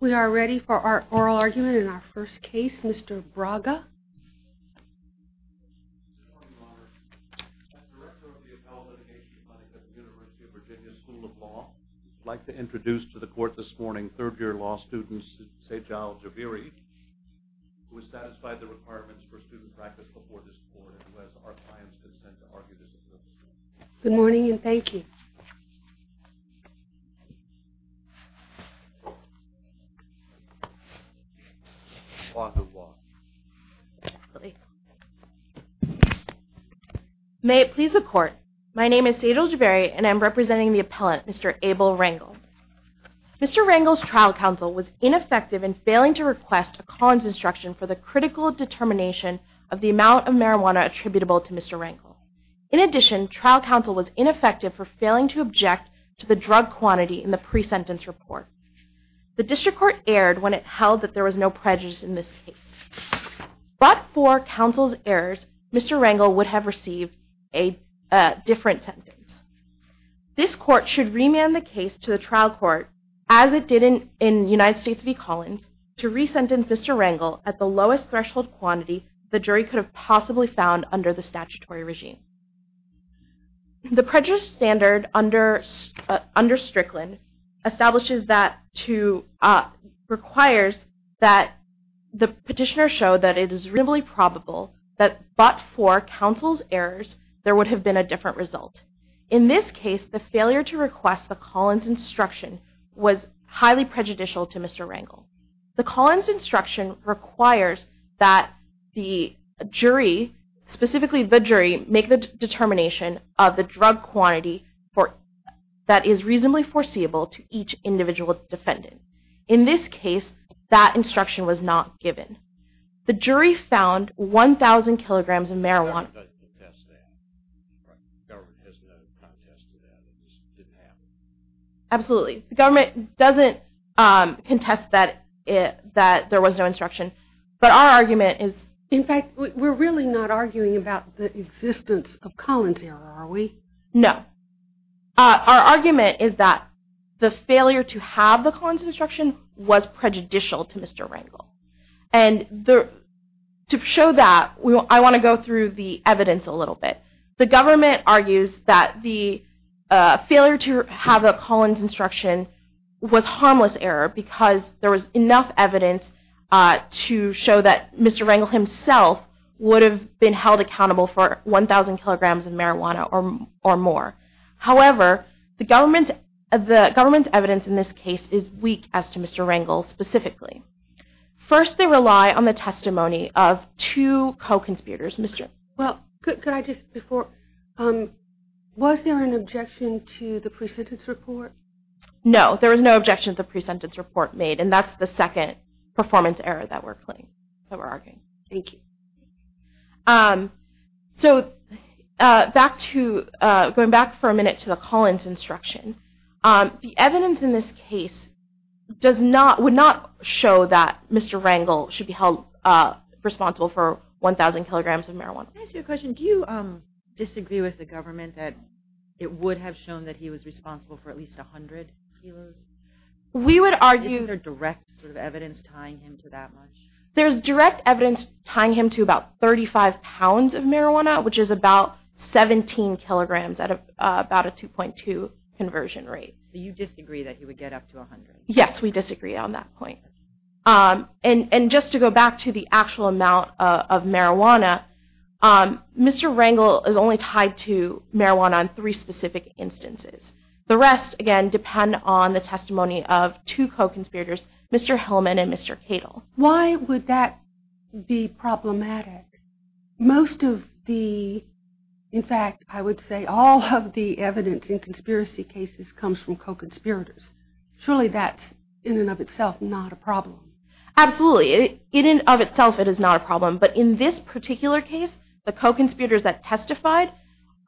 We are ready for our oral argument in our first case, Mr. Braga. Good morning, Your Honor. I'm the director of the Appellate Litigation Clinic at the University of Virginia School of Law. I'd like to introduce to the court this morning third-year law student Sejal Jabiri, who has satisfied the requirements for student practice before this court and who has our client's consent to argue this case. Good morning and thank you. May it please the court, my name is Sejal Jabiri and I'm representing the appellant, Mr. Abel Rangel. Mr. Rangel's trial counsel was ineffective in failing to request a Collins instruction for the critical determination of the amount of marijuana attributable to Mr. Rangel. In addition, trial counsel was ineffective for failing to object to the drug quantity in the pre-sentence report. The district court erred when it held that there was no prejudice in this case. But for counsel's errors, Mr. Rangel would have received a different sentence. This court should remand the case to the trial court, as it did in United States v. Collins, to re-sentence Mr. Rangel at the lowest threshold quantity the jury could have possibly found under the statutory regime. The prejudice standard under Strickland establishes that to – requires that the petitioner show that it is reasonably probable that but for counsel's errors, there would have been a different result. In this case, the failure to request the Collins instruction was highly prejudicial to Mr. Rangel. The Collins instruction requires that the jury, specifically the jury, make the determination of the drug quantity that is reasonably foreseeable to each individual defendant. In this case, that instruction was not given. The jury found 1,000 kilograms of marijuana. Absolutely. The government doesn't contest that there was no instruction. But our argument is – In fact, we're really not arguing about the existence of Collins error, are we? No. Our argument is that the failure to have the Collins instruction was prejudicial to Mr. Rangel. And to show that, I want to go through the evidence a little bit. The government argues that the failure to have a Collins instruction was harmless error because there was enough evidence to show that Mr. Rangel himself would have been held accountable for 1,000 kilograms of marijuana or more. However, the government's evidence in this case is weak as to Mr. Rangel specifically. First, they rely on the testimony of two co-conspirators. Well, could I just – Was there an objection to the pre-sentence report? No. There was no objection to the pre-sentence report made. And that's the second performance error that we're arguing. Thank you. So, going back for a minute to the Collins instruction, the evidence in this case would not show that Mr. Rangel should be held responsible for 1,000 kilograms of marijuana. Can I ask you a question? Do you disagree with the government that it would have shown that he was responsible for at least 100 kilos? We would argue – Isn't there direct sort of evidence tying him to that much? There's direct evidence tying him to about 35 pounds of marijuana, which is about 17 kilograms at about a 2.2 conversion rate. So, you disagree that he would get up to 100? Yes, we disagree on that point. And just to go back to the actual amount of marijuana, Mr. Rangel is only tied to marijuana in three specific instances. The rest, again, depend on the testimony of two co-conspirators, Mr. Hillman and Mr. Cato. Why would that be problematic? Most of the – In fact, I would say all of the evidence in conspiracy cases comes from co-conspirators. Surely that's, in and of itself, not a problem. Absolutely. In and of itself, it is not a problem. But in this particular case, the co-conspirators that testified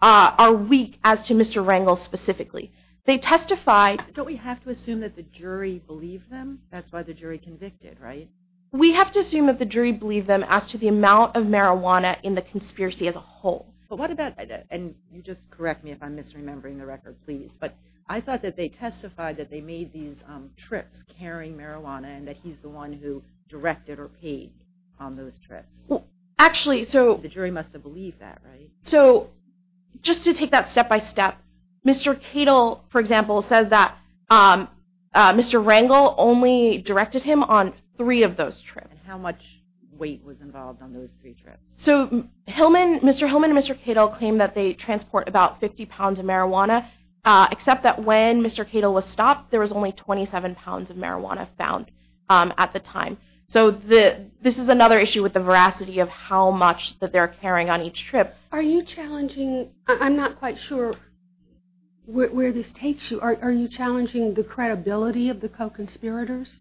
are weak as to Mr. Rangel specifically. They testified – Don't we have to assume that the jury believed them? That's why the jury convicted, right? We have to assume that the jury believed them as to the amount of marijuana in the conspiracy as a whole. But what about – And you just correct me if I'm misremembering the record, please. But I thought that they testified that they made these trips carrying marijuana and that he's the one who directed or paid on those trips. Well, actually – The jury must have believed that, right? So just to take that step by step, Mr. Cato, for example, says that Mr. Rangel only directed him on three of those trips. And how much weight was involved on those three trips? So Mr. Hillman and Mr. Cato claim that they transport about 50 pounds of marijuana, except that when Mr. Cato was stopped, there was only 27 pounds of marijuana found at the time. So this is another issue with the veracity of how much that they're carrying on each trip. Are you challenging – I'm not quite sure where this takes you. Are you challenging the credibility of the co-conspirators?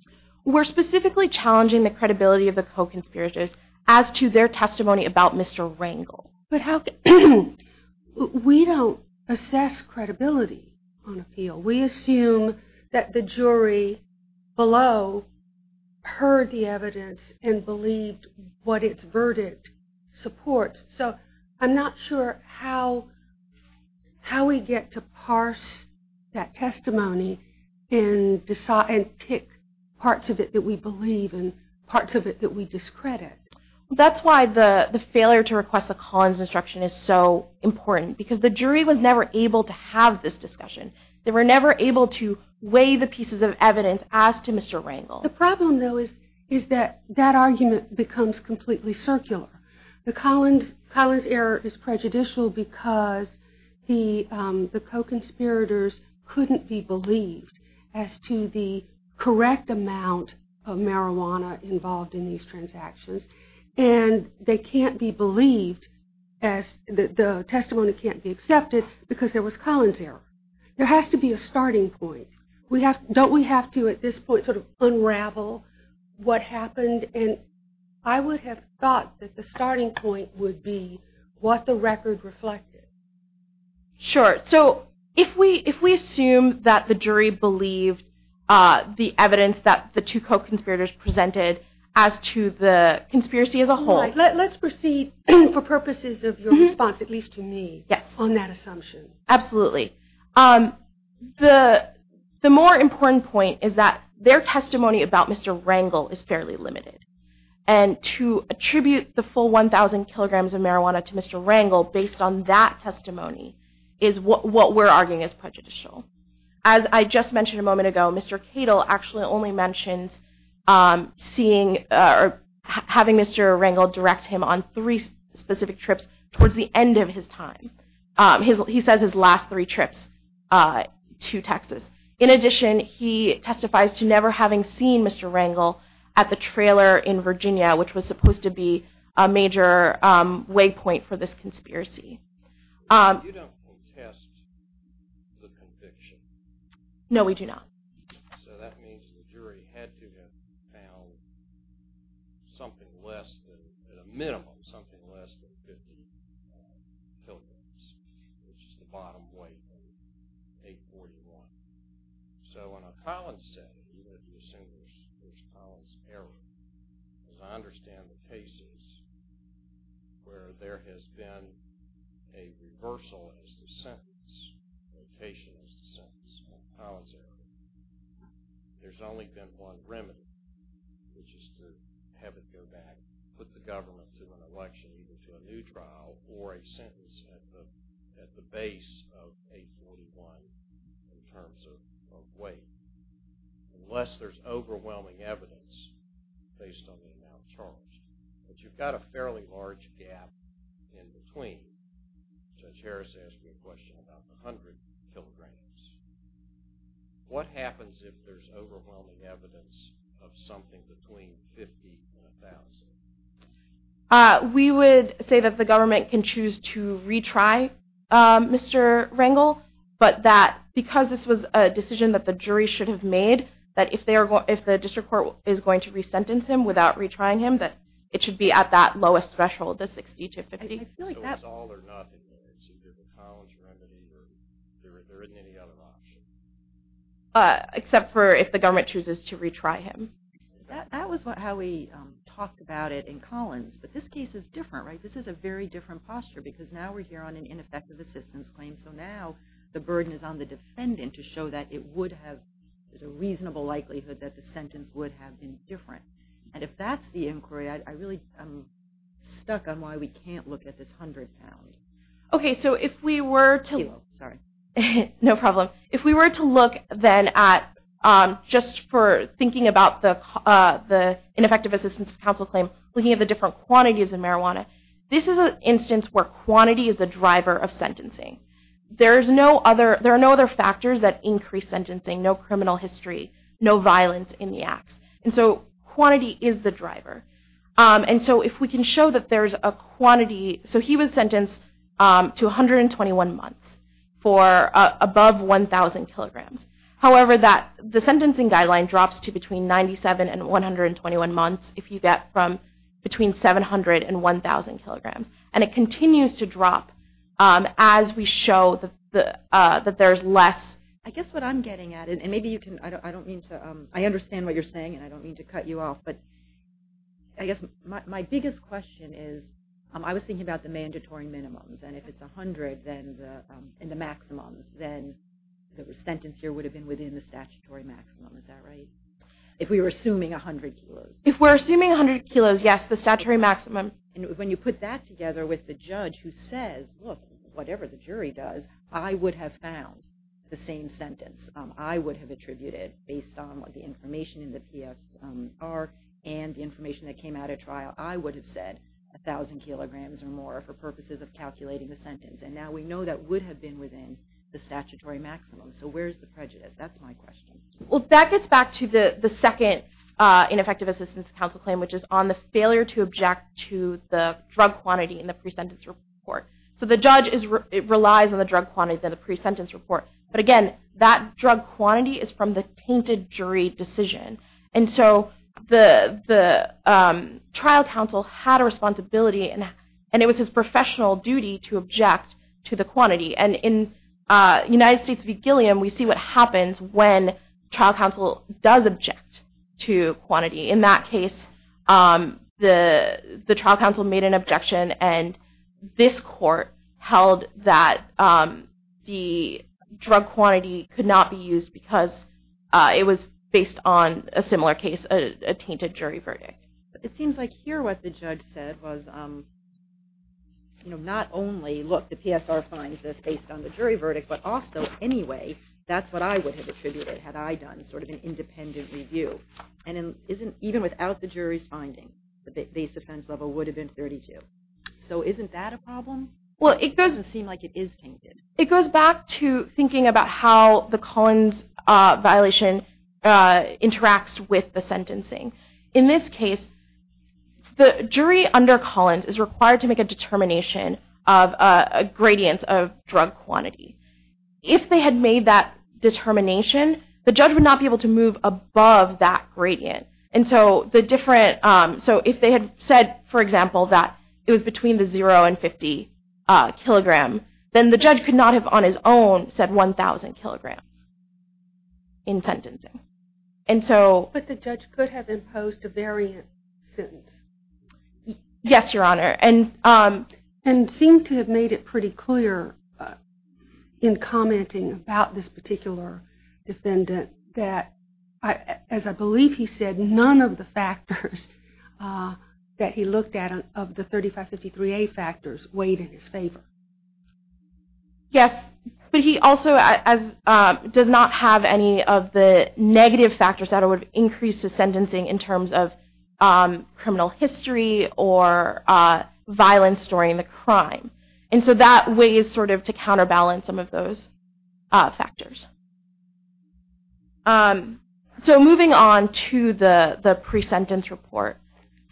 We're specifically challenging the credibility of the co-conspirators as to their testimony about Mr. Rangel. But how – We don't assess credibility on appeal. We assume that the jury below heard the evidence and believed what its verdict supports. So I'm not sure how we get to parse that testimony and pick parts of it that we believe and parts of it that we discredit. That's why the failure to request the Collins instruction is so important. Because the jury was never able to have this discussion. They were never able to weigh the pieces of evidence as to Mr. Rangel. The problem, though, is that that argument becomes completely circular. The Collins error is prejudicial because the co-conspirators couldn't be believed as to the correct amount of marijuana involved in these transactions. And they can't be believed as – the testimony can't be accepted because there was Collins error. There has to be a starting point. Don't we have to, at this point, sort of unravel what happened? And I would have thought that the starting point would be what the record reflected. Sure. So if we assume that the jury believed the evidence that the two co-conspirators presented as to the conspiracy as a whole – Let's proceed for purposes of your response, at least to me, on that assumption. Absolutely. The more important point is that their testimony about Mr. Rangel is fairly limited. And to attribute the full 1,000 kilograms of marijuana to Mr. Rangel based on that testimony is what we're arguing is prejudicial. As I just mentioned a moment ago, Mr. Cato actually only mentioned having Mr. Rangel direct him on three specific trips towards the end of his time. He says his last three trips to Texas. In addition, he testifies to never having seen Mr. Rangel at the trailer in Virginia, which was supposed to be a major waypoint for this conspiracy. You don't contest the conviction? No, we do not. So that means the jury had to have found something less than, at a minimum, something less than 50 kilograms, which is the bottom weight of 841. So in a Collins setting, as I understand the cases where there has been a reversal as to the sentence, a location as to the sentence in a Collins area, there's only been one remedy, which is to have it go back, put the government to an election, either to a new trial or a sentence at the base of 841 in terms of weight, unless there's overwhelming evidence based on the amount charged. But you've got a fairly large gap in between. Judge Harris asked me a question about the 100 kilograms. What happens if there's overwhelming evidence of something between 50 and 1,000? We would say that the government can choose to retry Mr. Rangel, but that because this was a decision that the jury should have made, that if the district court is going to resentence him without retrying him, that it should be at that lowest threshold, the 60 to 50. So it's all or nothing there? There isn't any other option? Except for if the government chooses to retry him. That was how we talked about it in Collins, but this case is different. This is a very different posture because now we're here on an ineffective assistance claim, so now the burden is on the defendant to show that there's a reasonable likelihood that the sentence would have been different. And if that's the inquiry, I'm stuck on why we can't look at this 100 pounds. Okay, so if we were to look then at, just for thinking about the ineffective assistance of counsel claim, looking at the different quantities of marijuana, this is an instance where quantity is the driver of sentencing. There are no other factors that increase sentencing. No criminal history, no violence in the acts. And so quantity is the driver. And so if we can show that there's a quantity, so he was sentenced to 121 months for above 1,000 kilograms. However, the sentencing guideline drops to between 97 and 121 months if you get from between 700 and 1,000 kilograms. And it continues to drop as we show that there's less. I guess what I'm getting at, and maybe you can – I don't mean to – I understand what you're saying, and I don't mean to cut you off, but I guess my biggest question is, I was thinking about the mandatory minimums, and if it's 100 in the maximums, then the sentence here would have been within the statutory maximum. Is that right? If we were assuming 100 kilos. If we're assuming 100 kilos, yes, the statutory maximum. And when you put that together with the judge who says, look, whatever the jury does, I would have found the same sentence. I would have attributed, based on the information in the PSR and the information that came out at trial, I would have said 1,000 kilograms or more for purposes of calculating the sentence. And now we know that would have been within the statutory maximum. So where's the prejudice? That's my question. Well, that gets back to the second ineffective assistance counsel claim, which is on the failure to object to the drug quantity in the pre-sentence report. So the judge relies on the drug quantity in the pre-sentence report. But again, that drug quantity is from the tainted jury decision. And so the trial counsel had a responsibility, and it was his professional duty to object to the quantity. And in United States v. Gilliam, we see what happens when trial counsel does object to quantity. In that case, the trial counsel made an objection, and this court held that the drug quantity could not be used because it was based on a similar case, a tainted jury verdict. It seems like here what the judge said was not only, look, the PSR finds this based on the jury verdict, but also anyway, that's what I would have attributed had I done sort of an independent review. And even without the jury's finding, the base defense level would have been 32. So isn't that a problem? Well, it doesn't seem like it is tainted. It goes back to thinking about how the Collins violation interacts with the sentencing. In this case, the jury under Collins is required to make a determination of a gradient of drug quantity. If they had made that determination, the judge would not be able to move above that gradient. And so if they had said, for example, that it was between the 0 and 50 kilogram, then the judge could not have on his own said 1,000 kilograms in sentencing. But the judge could have imposed a variant sentence. Yes, Your Honor. And seemed to have made it pretty clear in commenting about this particular defendant that, as I believe he said, none of the factors that he looked at of the 3553A factors weighed in his favor. Yes, but he also does not have any of the negative factors that would have increased his sentencing in terms of criminal history or violence during the crime. And so that weighs sort of to counterbalance some of those factors. So moving on to the pre-sentence report.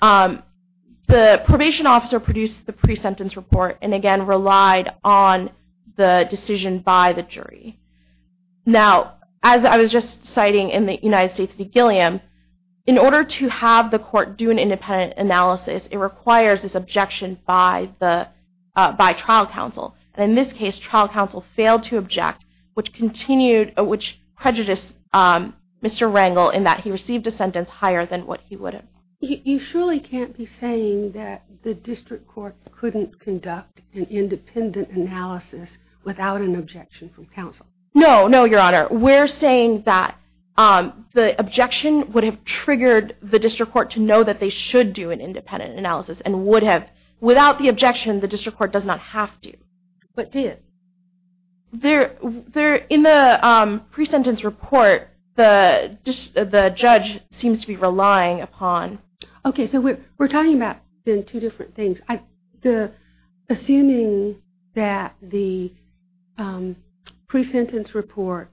The probation officer produced the pre-sentence report and, again, relied on the decision by the jury. Now, as I was just citing in the United States v. Gilliam, in order to have the court do an independent analysis, it requires this objection by trial counsel. And in this case, trial counsel failed to object, which continued, which prejudiced Mr. Rangel in that he received a sentence higher than what he would have. You surely can't be saying that the district court couldn't conduct an independent analysis without an objection from counsel? No, no, Your Honor. We're saying that the objection would have triggered the district court to know that they should do an independent analysis and would have, without the objection, the district court does not have to. But did? In the pre-sentence report, the judge seems to be relying upon... Okay, so we're talking about two different things. Assuming that the pre-sentence report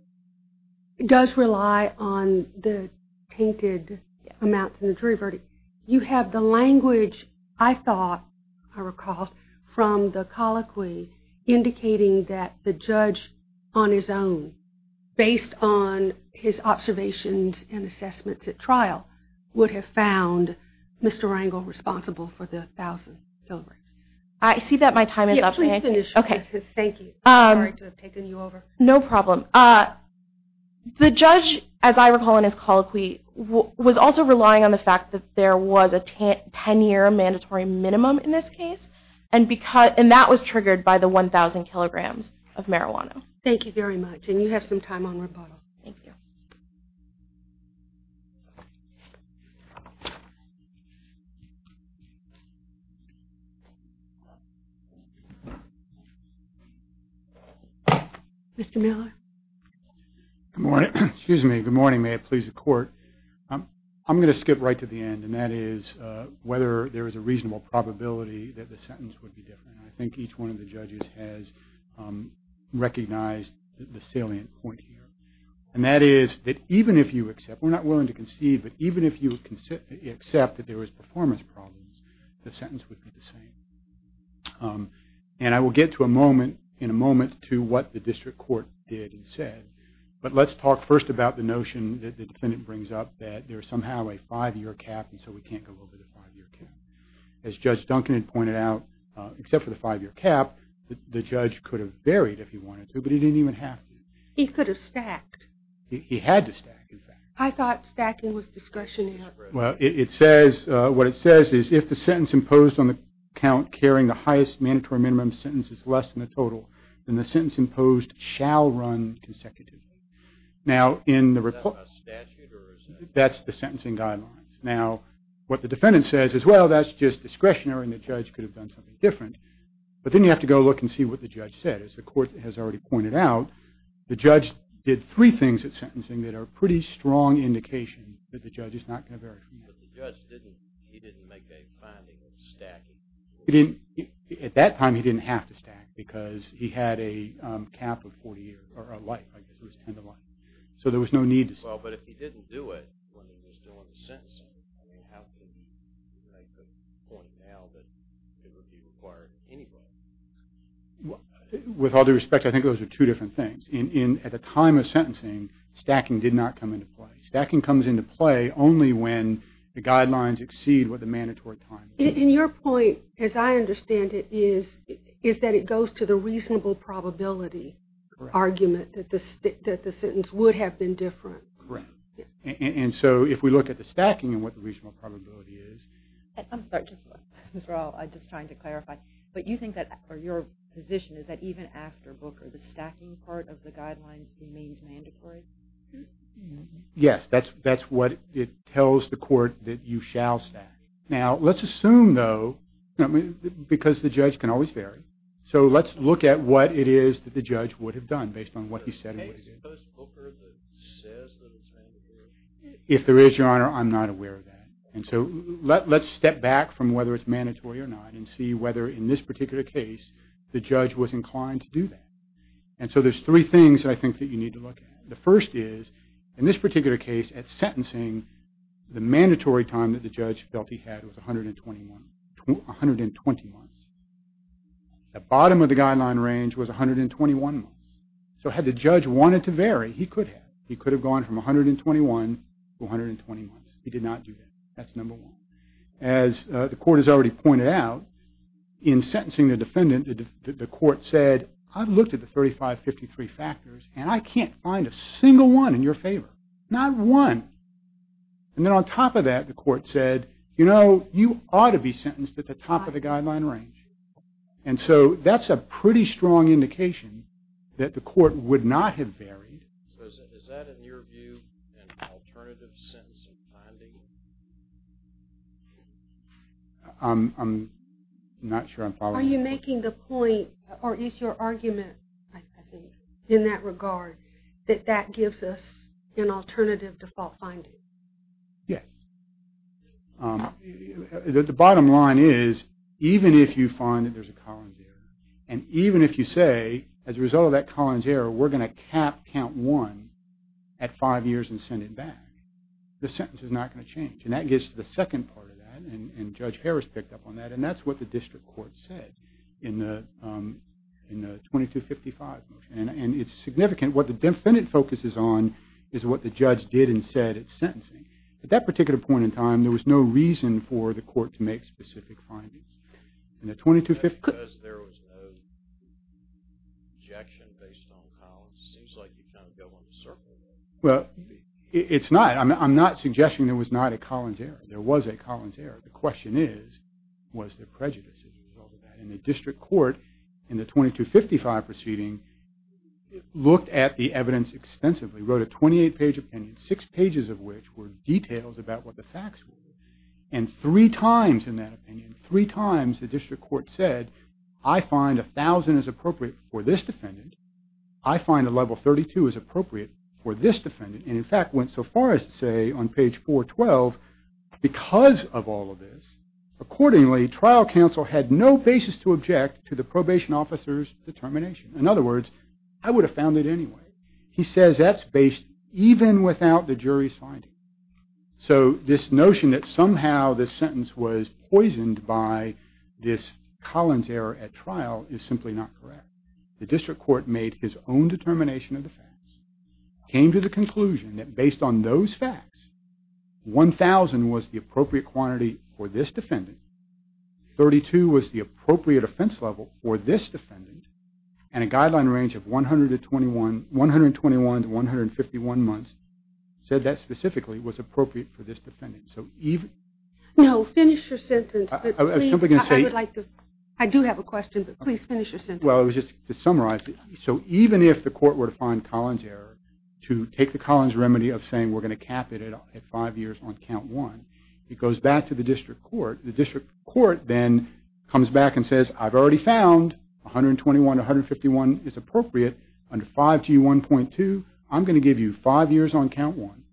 does rely on the tainted amounts in the jury verdict, you have the language, I thought, I recall, from the colloquy indicating that the judge on his own, based on his observations and assessments at trial, would have found Mr. Rangel responsible for the 1,000 kilograms. I see that my time is up. Please finish, Justice. Thank you. I'm sorry to have taken you over. No problem. The judge, as I recall in his colloquy, was also relying on the fact that there was a 10-year mandatory minimum in this case, and that was triggered by the 1,000 kilograms of marijuana. Thank you very much, and you have some time on rebuttal. Thank you. Mr. Miller? Good morning. Excuse me. Good morning. May it please the Court. I'm going to skip right to the end, and that is whether there is a reasonable probability that the sentence would be different. I think each one of the judges has recognized the salient point here, and that is that even if you accept, we're not willing to concede, but even if you accept that there was performance problems, the sentence would be the same. And I will get in a moment to what the district court did and said, but let's talk first about the notion that the defendant brings up that there is somehow a five-year cap and so we can't go over the five-year cap. As Judge Duncan had pointed out, except for the five-year cap, the judge could have varied if he wanted to, but he didn't even have to. He could have stacked. He had to stack, in fact. I thought stacking was discretionary. Well, it says, what it says is, if the sentence imposed on the count carrying the highest mandatory minimum sentence is less than the total, then the sentence imposed shall run consecutively. Now, in the report, that's the sentencing guidelines. Now, what the defendant says is, well, that's just discretionary, and the judge could have done something different. But then you have to go look and see what the judge said. As the court has already pointed out, the judge did three things at sentencing that are a pretty strong indication that the judge is not going to vary from that. But the judge, he didn't make a finding of stacking. At that time, he didn't have to stack because he had a cap of 40 years, or a life, I guess it was 10 to life. So there was no need to stack. Well, but if he didn't do it when he was doing the sentencing, I mean, how can you make the point now that it would be required anyway? With all due respect, I think those are two different things. At the time of sentencing, stacking did not come into play. Stacking comes into play only when the guidelines exceed what the mandatory time is. And your point, as I understand it, is that it goes to the reasonable probability argument that the sentence would have been different. Correct. And so if we look at the stacking and what the reasonable probability is. I'm sorry, just as well, I'm just trying to clarify. But you think that, or your position is that even after Booker, the stacking part of the guidelines remains mandatory? Yes, that's what it tells the court that you shall stack. Now, let's assume, though, because the judge can always vary. So let's look at what it is that the judge would have done based on what he said and what he did. Because Booker says that it's mandatory. If there is, Your Honor, I'm not aware of that. And so let's step back from whether it's mandatory or not and see whether, in this particular case, the judge was inclined to do that. And so there's three things, I think, that you need to look at. The first is, in this particular case, at sentencing, the mandatory time that the judge felt he had was 120 months. The bottom of the guideline range was 121 months. So had the judge wanted to vary, he could have. He could have gone from 121 to 120 months. He did not do that. That's number one. As the court has already pointed out, in sentencing the defendant, the court said, I've looked at the 3553 factors, and I can't find a single one in your favor. Not one. And then on top of that, the court said, you know, you ought to be sentenced at the top of the guideline range. And so that's a pretty strong indication that the court would not have varied. So is that, in your view, an alternative sentence of finding? I'm not sure I'm following. Are you making the point, or is your argument, I think, in that regard, that that gives us an alternative default finding? Yes. The bottom line is, even if you find that there's a Collins error, and even if you say, as a result of that Collins error, we're going to cap count one at five years and send it back, the sentence is not going to change. And that gets to the second part of that, and Judge Harris picked up on that, and that's what the district court said in the 2255 motion. And it's significant. What the defendant focuses on is what the judge did and said at sentencing. At that particular point in time, there was no reason for the court to make specific findings. Was that because there was no objection based on Collins? It seems like you kind of go in a circle there. Well, it's not. I'm not suggesting there was not a Collins error. There was a Collins error. The question is, was there prejudice as a result of that? And the district court, in the 2255 proceeding, looked at the evidence extensively, wrote a 28-page opinion, six pages of which were details about what the facts were, and three times in that opinion, three times the district court said, I find 1,000 is appropriate for this defendant. I find a level 32 is appropriate for this defendant, and, in fact, went so far as to say on page 412, because of all of this, accordingly, trial counsel had no basis to object to the probation officer's determination. In other words, I would have found it anyway. He says that's based even without the jury's finding. So this notion that somehow this sentence was poisoned by this Collins error at trial is simply not correct. The district court made his own determination of the facts, came to the conclusion that based on those facts, 1,000 was the appropriate quantity for this defendant, 32 was the appropriate offense level for this defendant, and a guideline range of 121 to 151 months said that specifically was appropriate for this defendant. So even... No, finish your sentence. I was simply going to say... I would like to... I do have a question, but please finish your sentence. Well, it was just to summarize it. So even if the court were to find Collins error, to take the Collins remedy of saying we're going to cap it at five years on count one, it goes back to the district court. The district court then comes back and says, I've already found 121 to 151 is appropriate under 5G1.2. I'm going to give you five years on count one.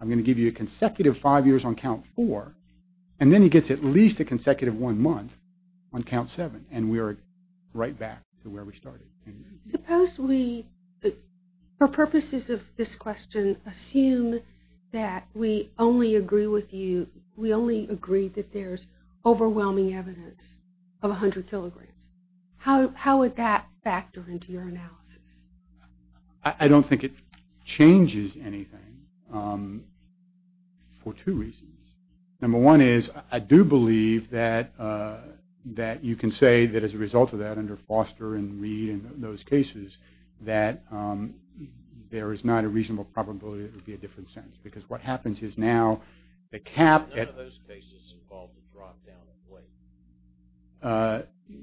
I'm going to give you a consecutive five years on count four. And then he gets at least a consecutive one month on count seven, and we are right back to where we started. Suppose we, for purposes of this question, assume that we only agree with you, we only agree that there's overwhelming evidence of 100 kilograms. How would that factor into your analysis? I don't think it changes anything for two reasons. Number one is I do believe that you can say that as a result of that, under Foster and Reed and those cases, that there is not a reasonable probability it would be a different sentence. None of those cases involved a drop down of weight.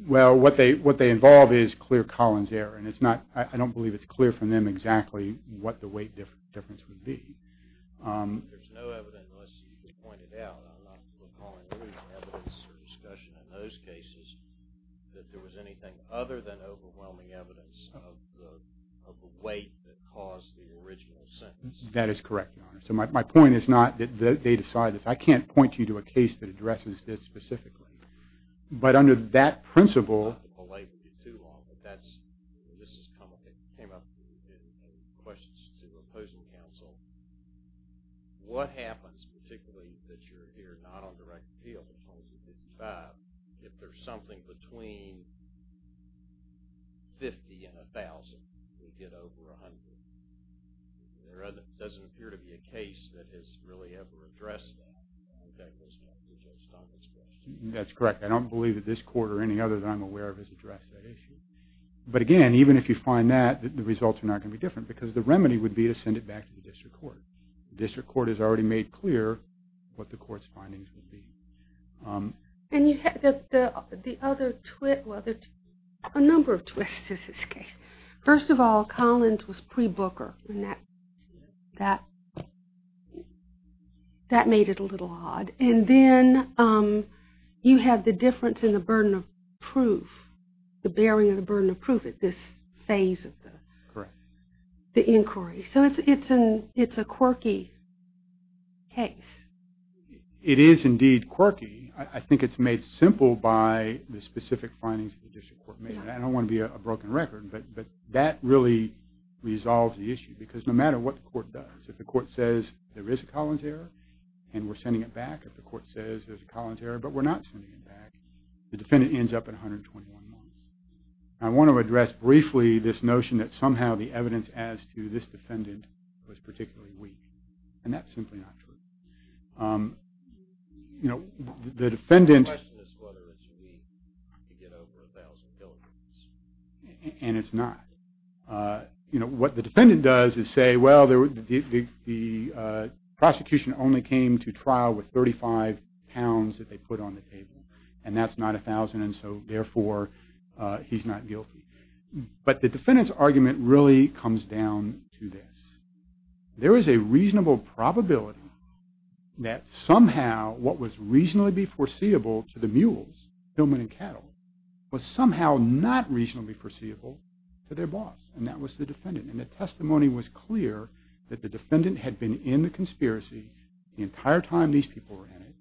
Well, what they involve is clear Collins error, and I don't believe it's clear from them exactly what the weight difference would be. There's no evidence, unless you point it out, I'm not recalling any evidence or discussion in those cases, that there was anything other than overwhelming evidence of the weight that caused the original sentence. That is correct, Your Honor. So my point is not that they decide this. I can't point you to a case that addresses this specifically. But under that principle – I don't want to belabor you too long, but this is complicated. It came up in questions to opposing counsel. What happens, particularly that you're here not on direct appeal, but 2255, if there's something between 50 and 1,000, you get over 100? There doesn't appear to be a case that has really ever addressed that. I think that goes back to Judge Tompkins' question. That's correct. I don't believe that this court or any other that I'm aware of has addressed that issue. But again, even if you find that, the results are not going to be different because the remedy would be to send it back to the district court. The district court has already made clear what the court's findings would be. And the other – well, there's a number of twists to this case. First of all, Collins was pre-Booker, and that made it a little odd. And then you have the difference in the burden of proof, the bearing of the burden of proof at this phase of the inquiry. So it's a quirky case. It is indeed quirky. I think it's made simple by the specific findings of the district court. I don't want to be a broken record, but that really resolves the issue because no matter what the court does, if the court says there is a Collins error and we're sending it back, if the court says there's a Collins error but we're not sending it back, the defendant ends up at 121 months. I want to address briefly this notion that somehow the evidence as to this defendant was particularly weak, and that's simply not true. The question is whether it's weak to get over 1,000 kilograms. And it's not. What the defendant does is say, well, the prosecution only came to trial with 35 pounds that they put on the table, and that's not 1,000, and so therefore he's not guilty. But the defendant's argument really comes down to this. There is a reasonable probability that somehow what was reasonably foreseeable to the mules, human and cattle, was somehow not reasonably foreseeable to their boss, and that was the defendant. And the testimony was clear that the defendant had been in the conspiracy the entire time these people were in it,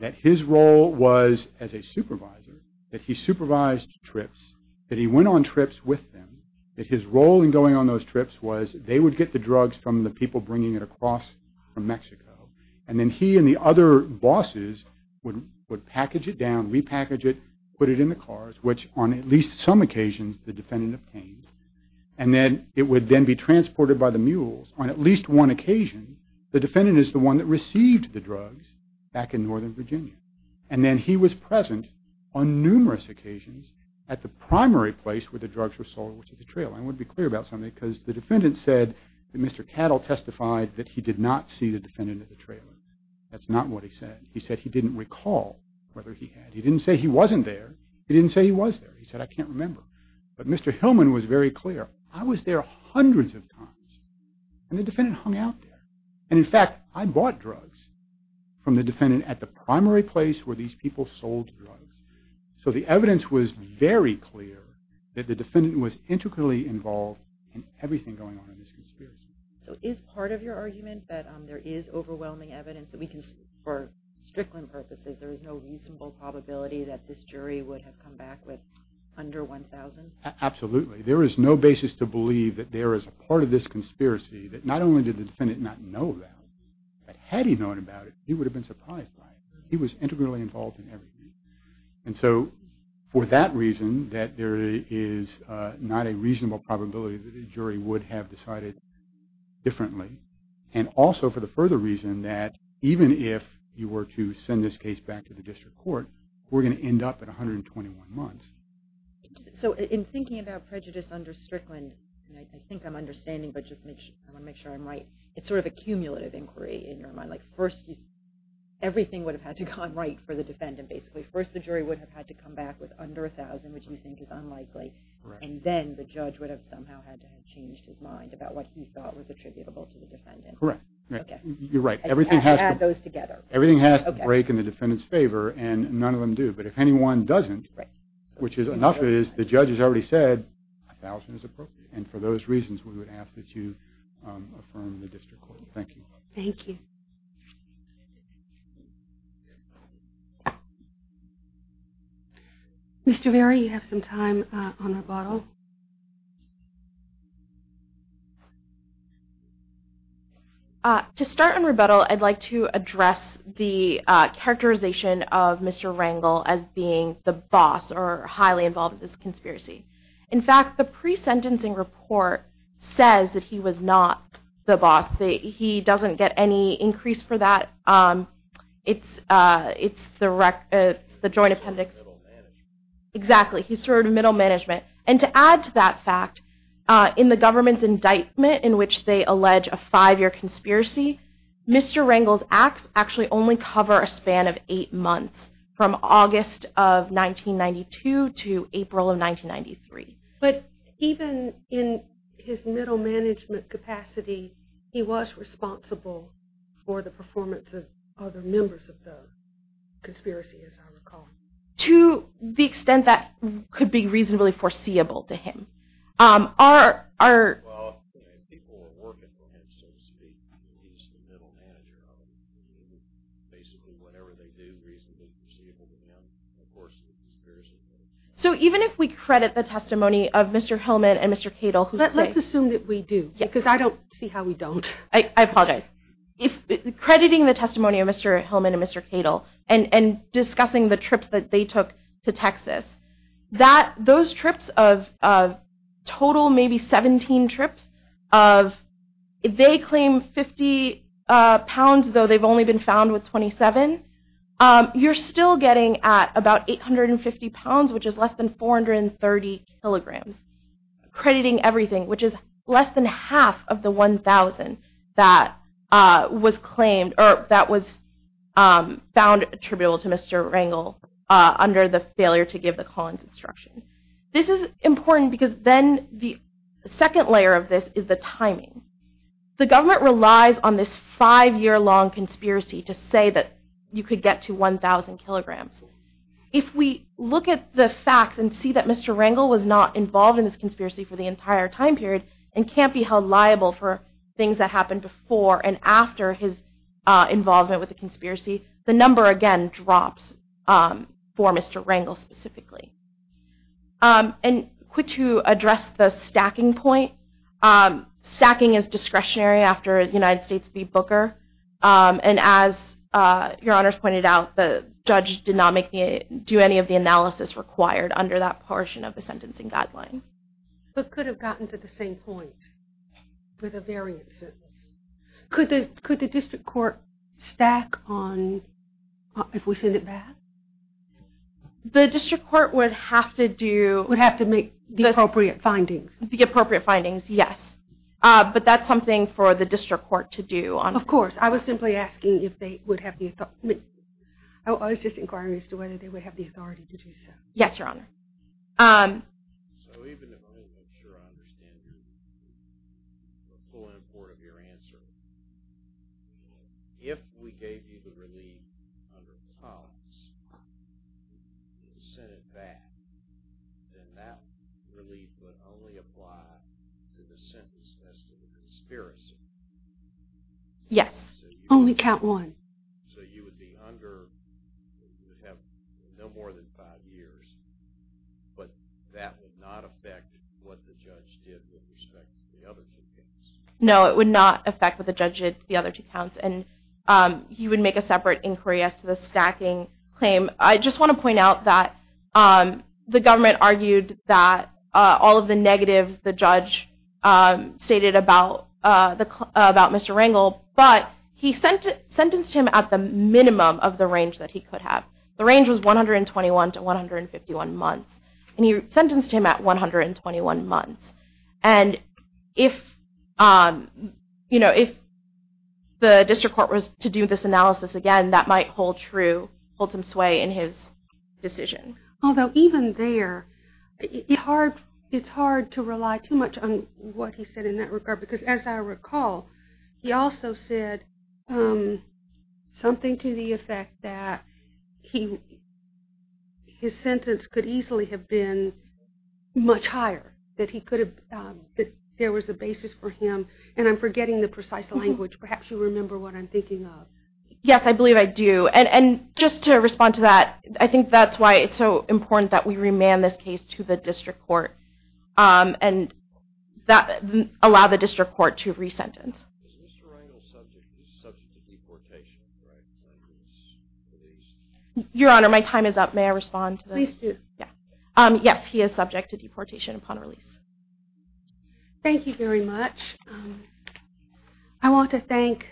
that his role was as a supervisor, that he supervised trips, that he went on trips with them, that his role in going on those trips was they would get the drugs from the people bringing it across from Mexico, and then he and the other bosses would package it down, repackage it, put it in the cars, which on at least some occasions the defendant obtained, and then it would then be transported by the mules. On at least one occasion, the defendant is the one that received the drugs back in northern Virginia, and then he was present on numerous occasions at the primary place where the drugs were sold, which is the trailer. I want to be clear about something, because the defendant said that Mr. Cattle testified that he did not see the defendant at the trailer. That's not what he said. He said he didn't recall whether he had. He didn't say he wasn't there. He didn't say he was there. He said, I can't remember. But Mr. Hillman was very clear. I was there hundreds of times, and the defendant hung out there. And in fact, I bought drugs from the defendant at the primary place where these people sold drugs. So the evidence was very clear that the defendant was integrally involved in everything going on in this conspiracy. So is part of your argument that there is overwhelming evidence that we can, for Strickland purposes, there is no reasonable probability that this jury would have come back with under $1,000? Absolutely. There is no basis to believe that there is a part of this conspiracy that not only did the defendant not know about, but had he known about it, he would have been surprised by it. He was integrally involved in everything. And so for that reason that there is not a reasonable probability that a jury would have decided differently, and also for the further reason that even if you were to send this case back to the district court, we're going to end up at 121 months. So in thinking about prejudice under Strickland, I think I'm understanding, but I want to make sure I'm right. It's sort of a cumulative inquiry in your mind. Everything would have had to have gone right for the defendant, basically. First the jury would have had to come back with under $1,000, which you think is unlikely. And then the judge would have somehow had to have changed his mind about what he thought was attributable to the defendant. Correct. You're right. Everything has to break in the defendant's favor, and none of them do. But if anyone doesn't, which is enough is the judge has already said $1,000 is appropriate. And for those reasons, we would ask that you affirm the district court. Thank you. Thank you. Mr. Varey, you have some time on rebuttal. To start on rebuttal, I'd like to address the characterization of Mr. Rangel as being the boss or highly involved in this conspiracy. In fact, the pre-sentencing report says that he was not the boss. He doesn't get any increase for that. It's the joint appendix. He served in middle management. Exactly. He served in middle management. And to add to that fact, in the government's indictment in which they allege a five-year conspiracy, Mr. Rangel's acts actually only cover a span of eight months, from August of 1992 to April of 1993. But even in his middle management capacity, he was responsible for the performance of other members of the conspiracy, as I recall. To the extent that could be reasonably foreseeable to him. Well, people were working for him, so to speak. He was the middle manager of it. Basically, whatever they do reasonably foreseeable to him, of course, is conspiracy theory. Let's assume that we do, because I don't see how we don't. I apologize. Crediting the testimony of Mr. Hillman and Mr. Cato and discussing the trips that they took to Texas, those trips of total maybe 17 trips of they claim 50 pounds, though they've only been found with 27, you're still getting at about 850 pounds, which is less than 430 kilograms. Crediting everything, which is less than half of the 1,000 that was claimed or that was found attributable to Mr. Rangel under the failure to give the Collins instruction. This is important because then the second layer of this is the timing. The government relies on this five-year-long conspiracy to say that you could get to 1,000 kilograms. If we look at the facts and see that Mr. Rangel was not involved in this conspiracy for the entire time period and can't be held liable for things that involve him with the conspiracy, the number, again, drops for Mr. Rangel specifically. And quick to address the stacking point, stacking is discretionary after a United States v. Booker. And as Your Honors pointed out, the judge did not do any of the analysis required under that portion of the sentencing guideline. But could have gotten to the same point with a variant sentence. Could the district court stack on if we send it back? The district court would have to do. Would have to make the appropriate findings. The appropriate findings, yes. But that's something for the district court to do. Of course. I was simply asking if they would have the authority. I was just inquiring as to whether they would have the authority to do so. Yes, Your Honor. So even if I'm not sure I understand the full import of your answer, if we gave you the relief under the policy to send it back, then that relief would only apply to the sentence as to the conspiracy. Yes. Only count one. So you would be under, you would have no more than five years, but that would not affect what the judge did with respect to the other two counts. No, it would not affect what the judge did to the other two counts. And you would make a separate inquiry as to the stacking claim. I just want to point out that the government argued that all of the negatives the judge stated about Mr. Rangel, but he sentenced him at the minimum of the range that he could have. The range was 121 to 151 months. And he sentenced him at 121 months. And if the district court was to do this analysis again, that might hold some sway in his decision. Although even there it's hard to rely too much on what he said in that regard. Because as I recall, he also said something to the effect that his sentence could easily have been much higher. That there was a basis for him. And I'm forgetting the precise language. Perhaps you remember what I'm thinking of. Yes, I believe I do. And just to respond to that, I think that's why it's so important that we remand this case to the district court. And allow the district court to re-sentence. Is Mr. Rangel subject to deportation upon release? Your Honor, my time is up. May I respond to that? Please do. Yes, he is subject to deportation upon release. Thank you very much. I want to thank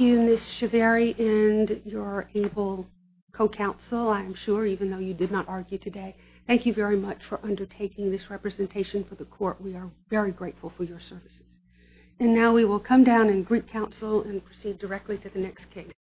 you, Ms. Chivary, and your able co-counsel, I'm sure, even though you did not argue today. Thank you very much for undertaking this representation for the court. We are very grateful for your services. And now we will come down and greet counsel and proceed directly to the next case.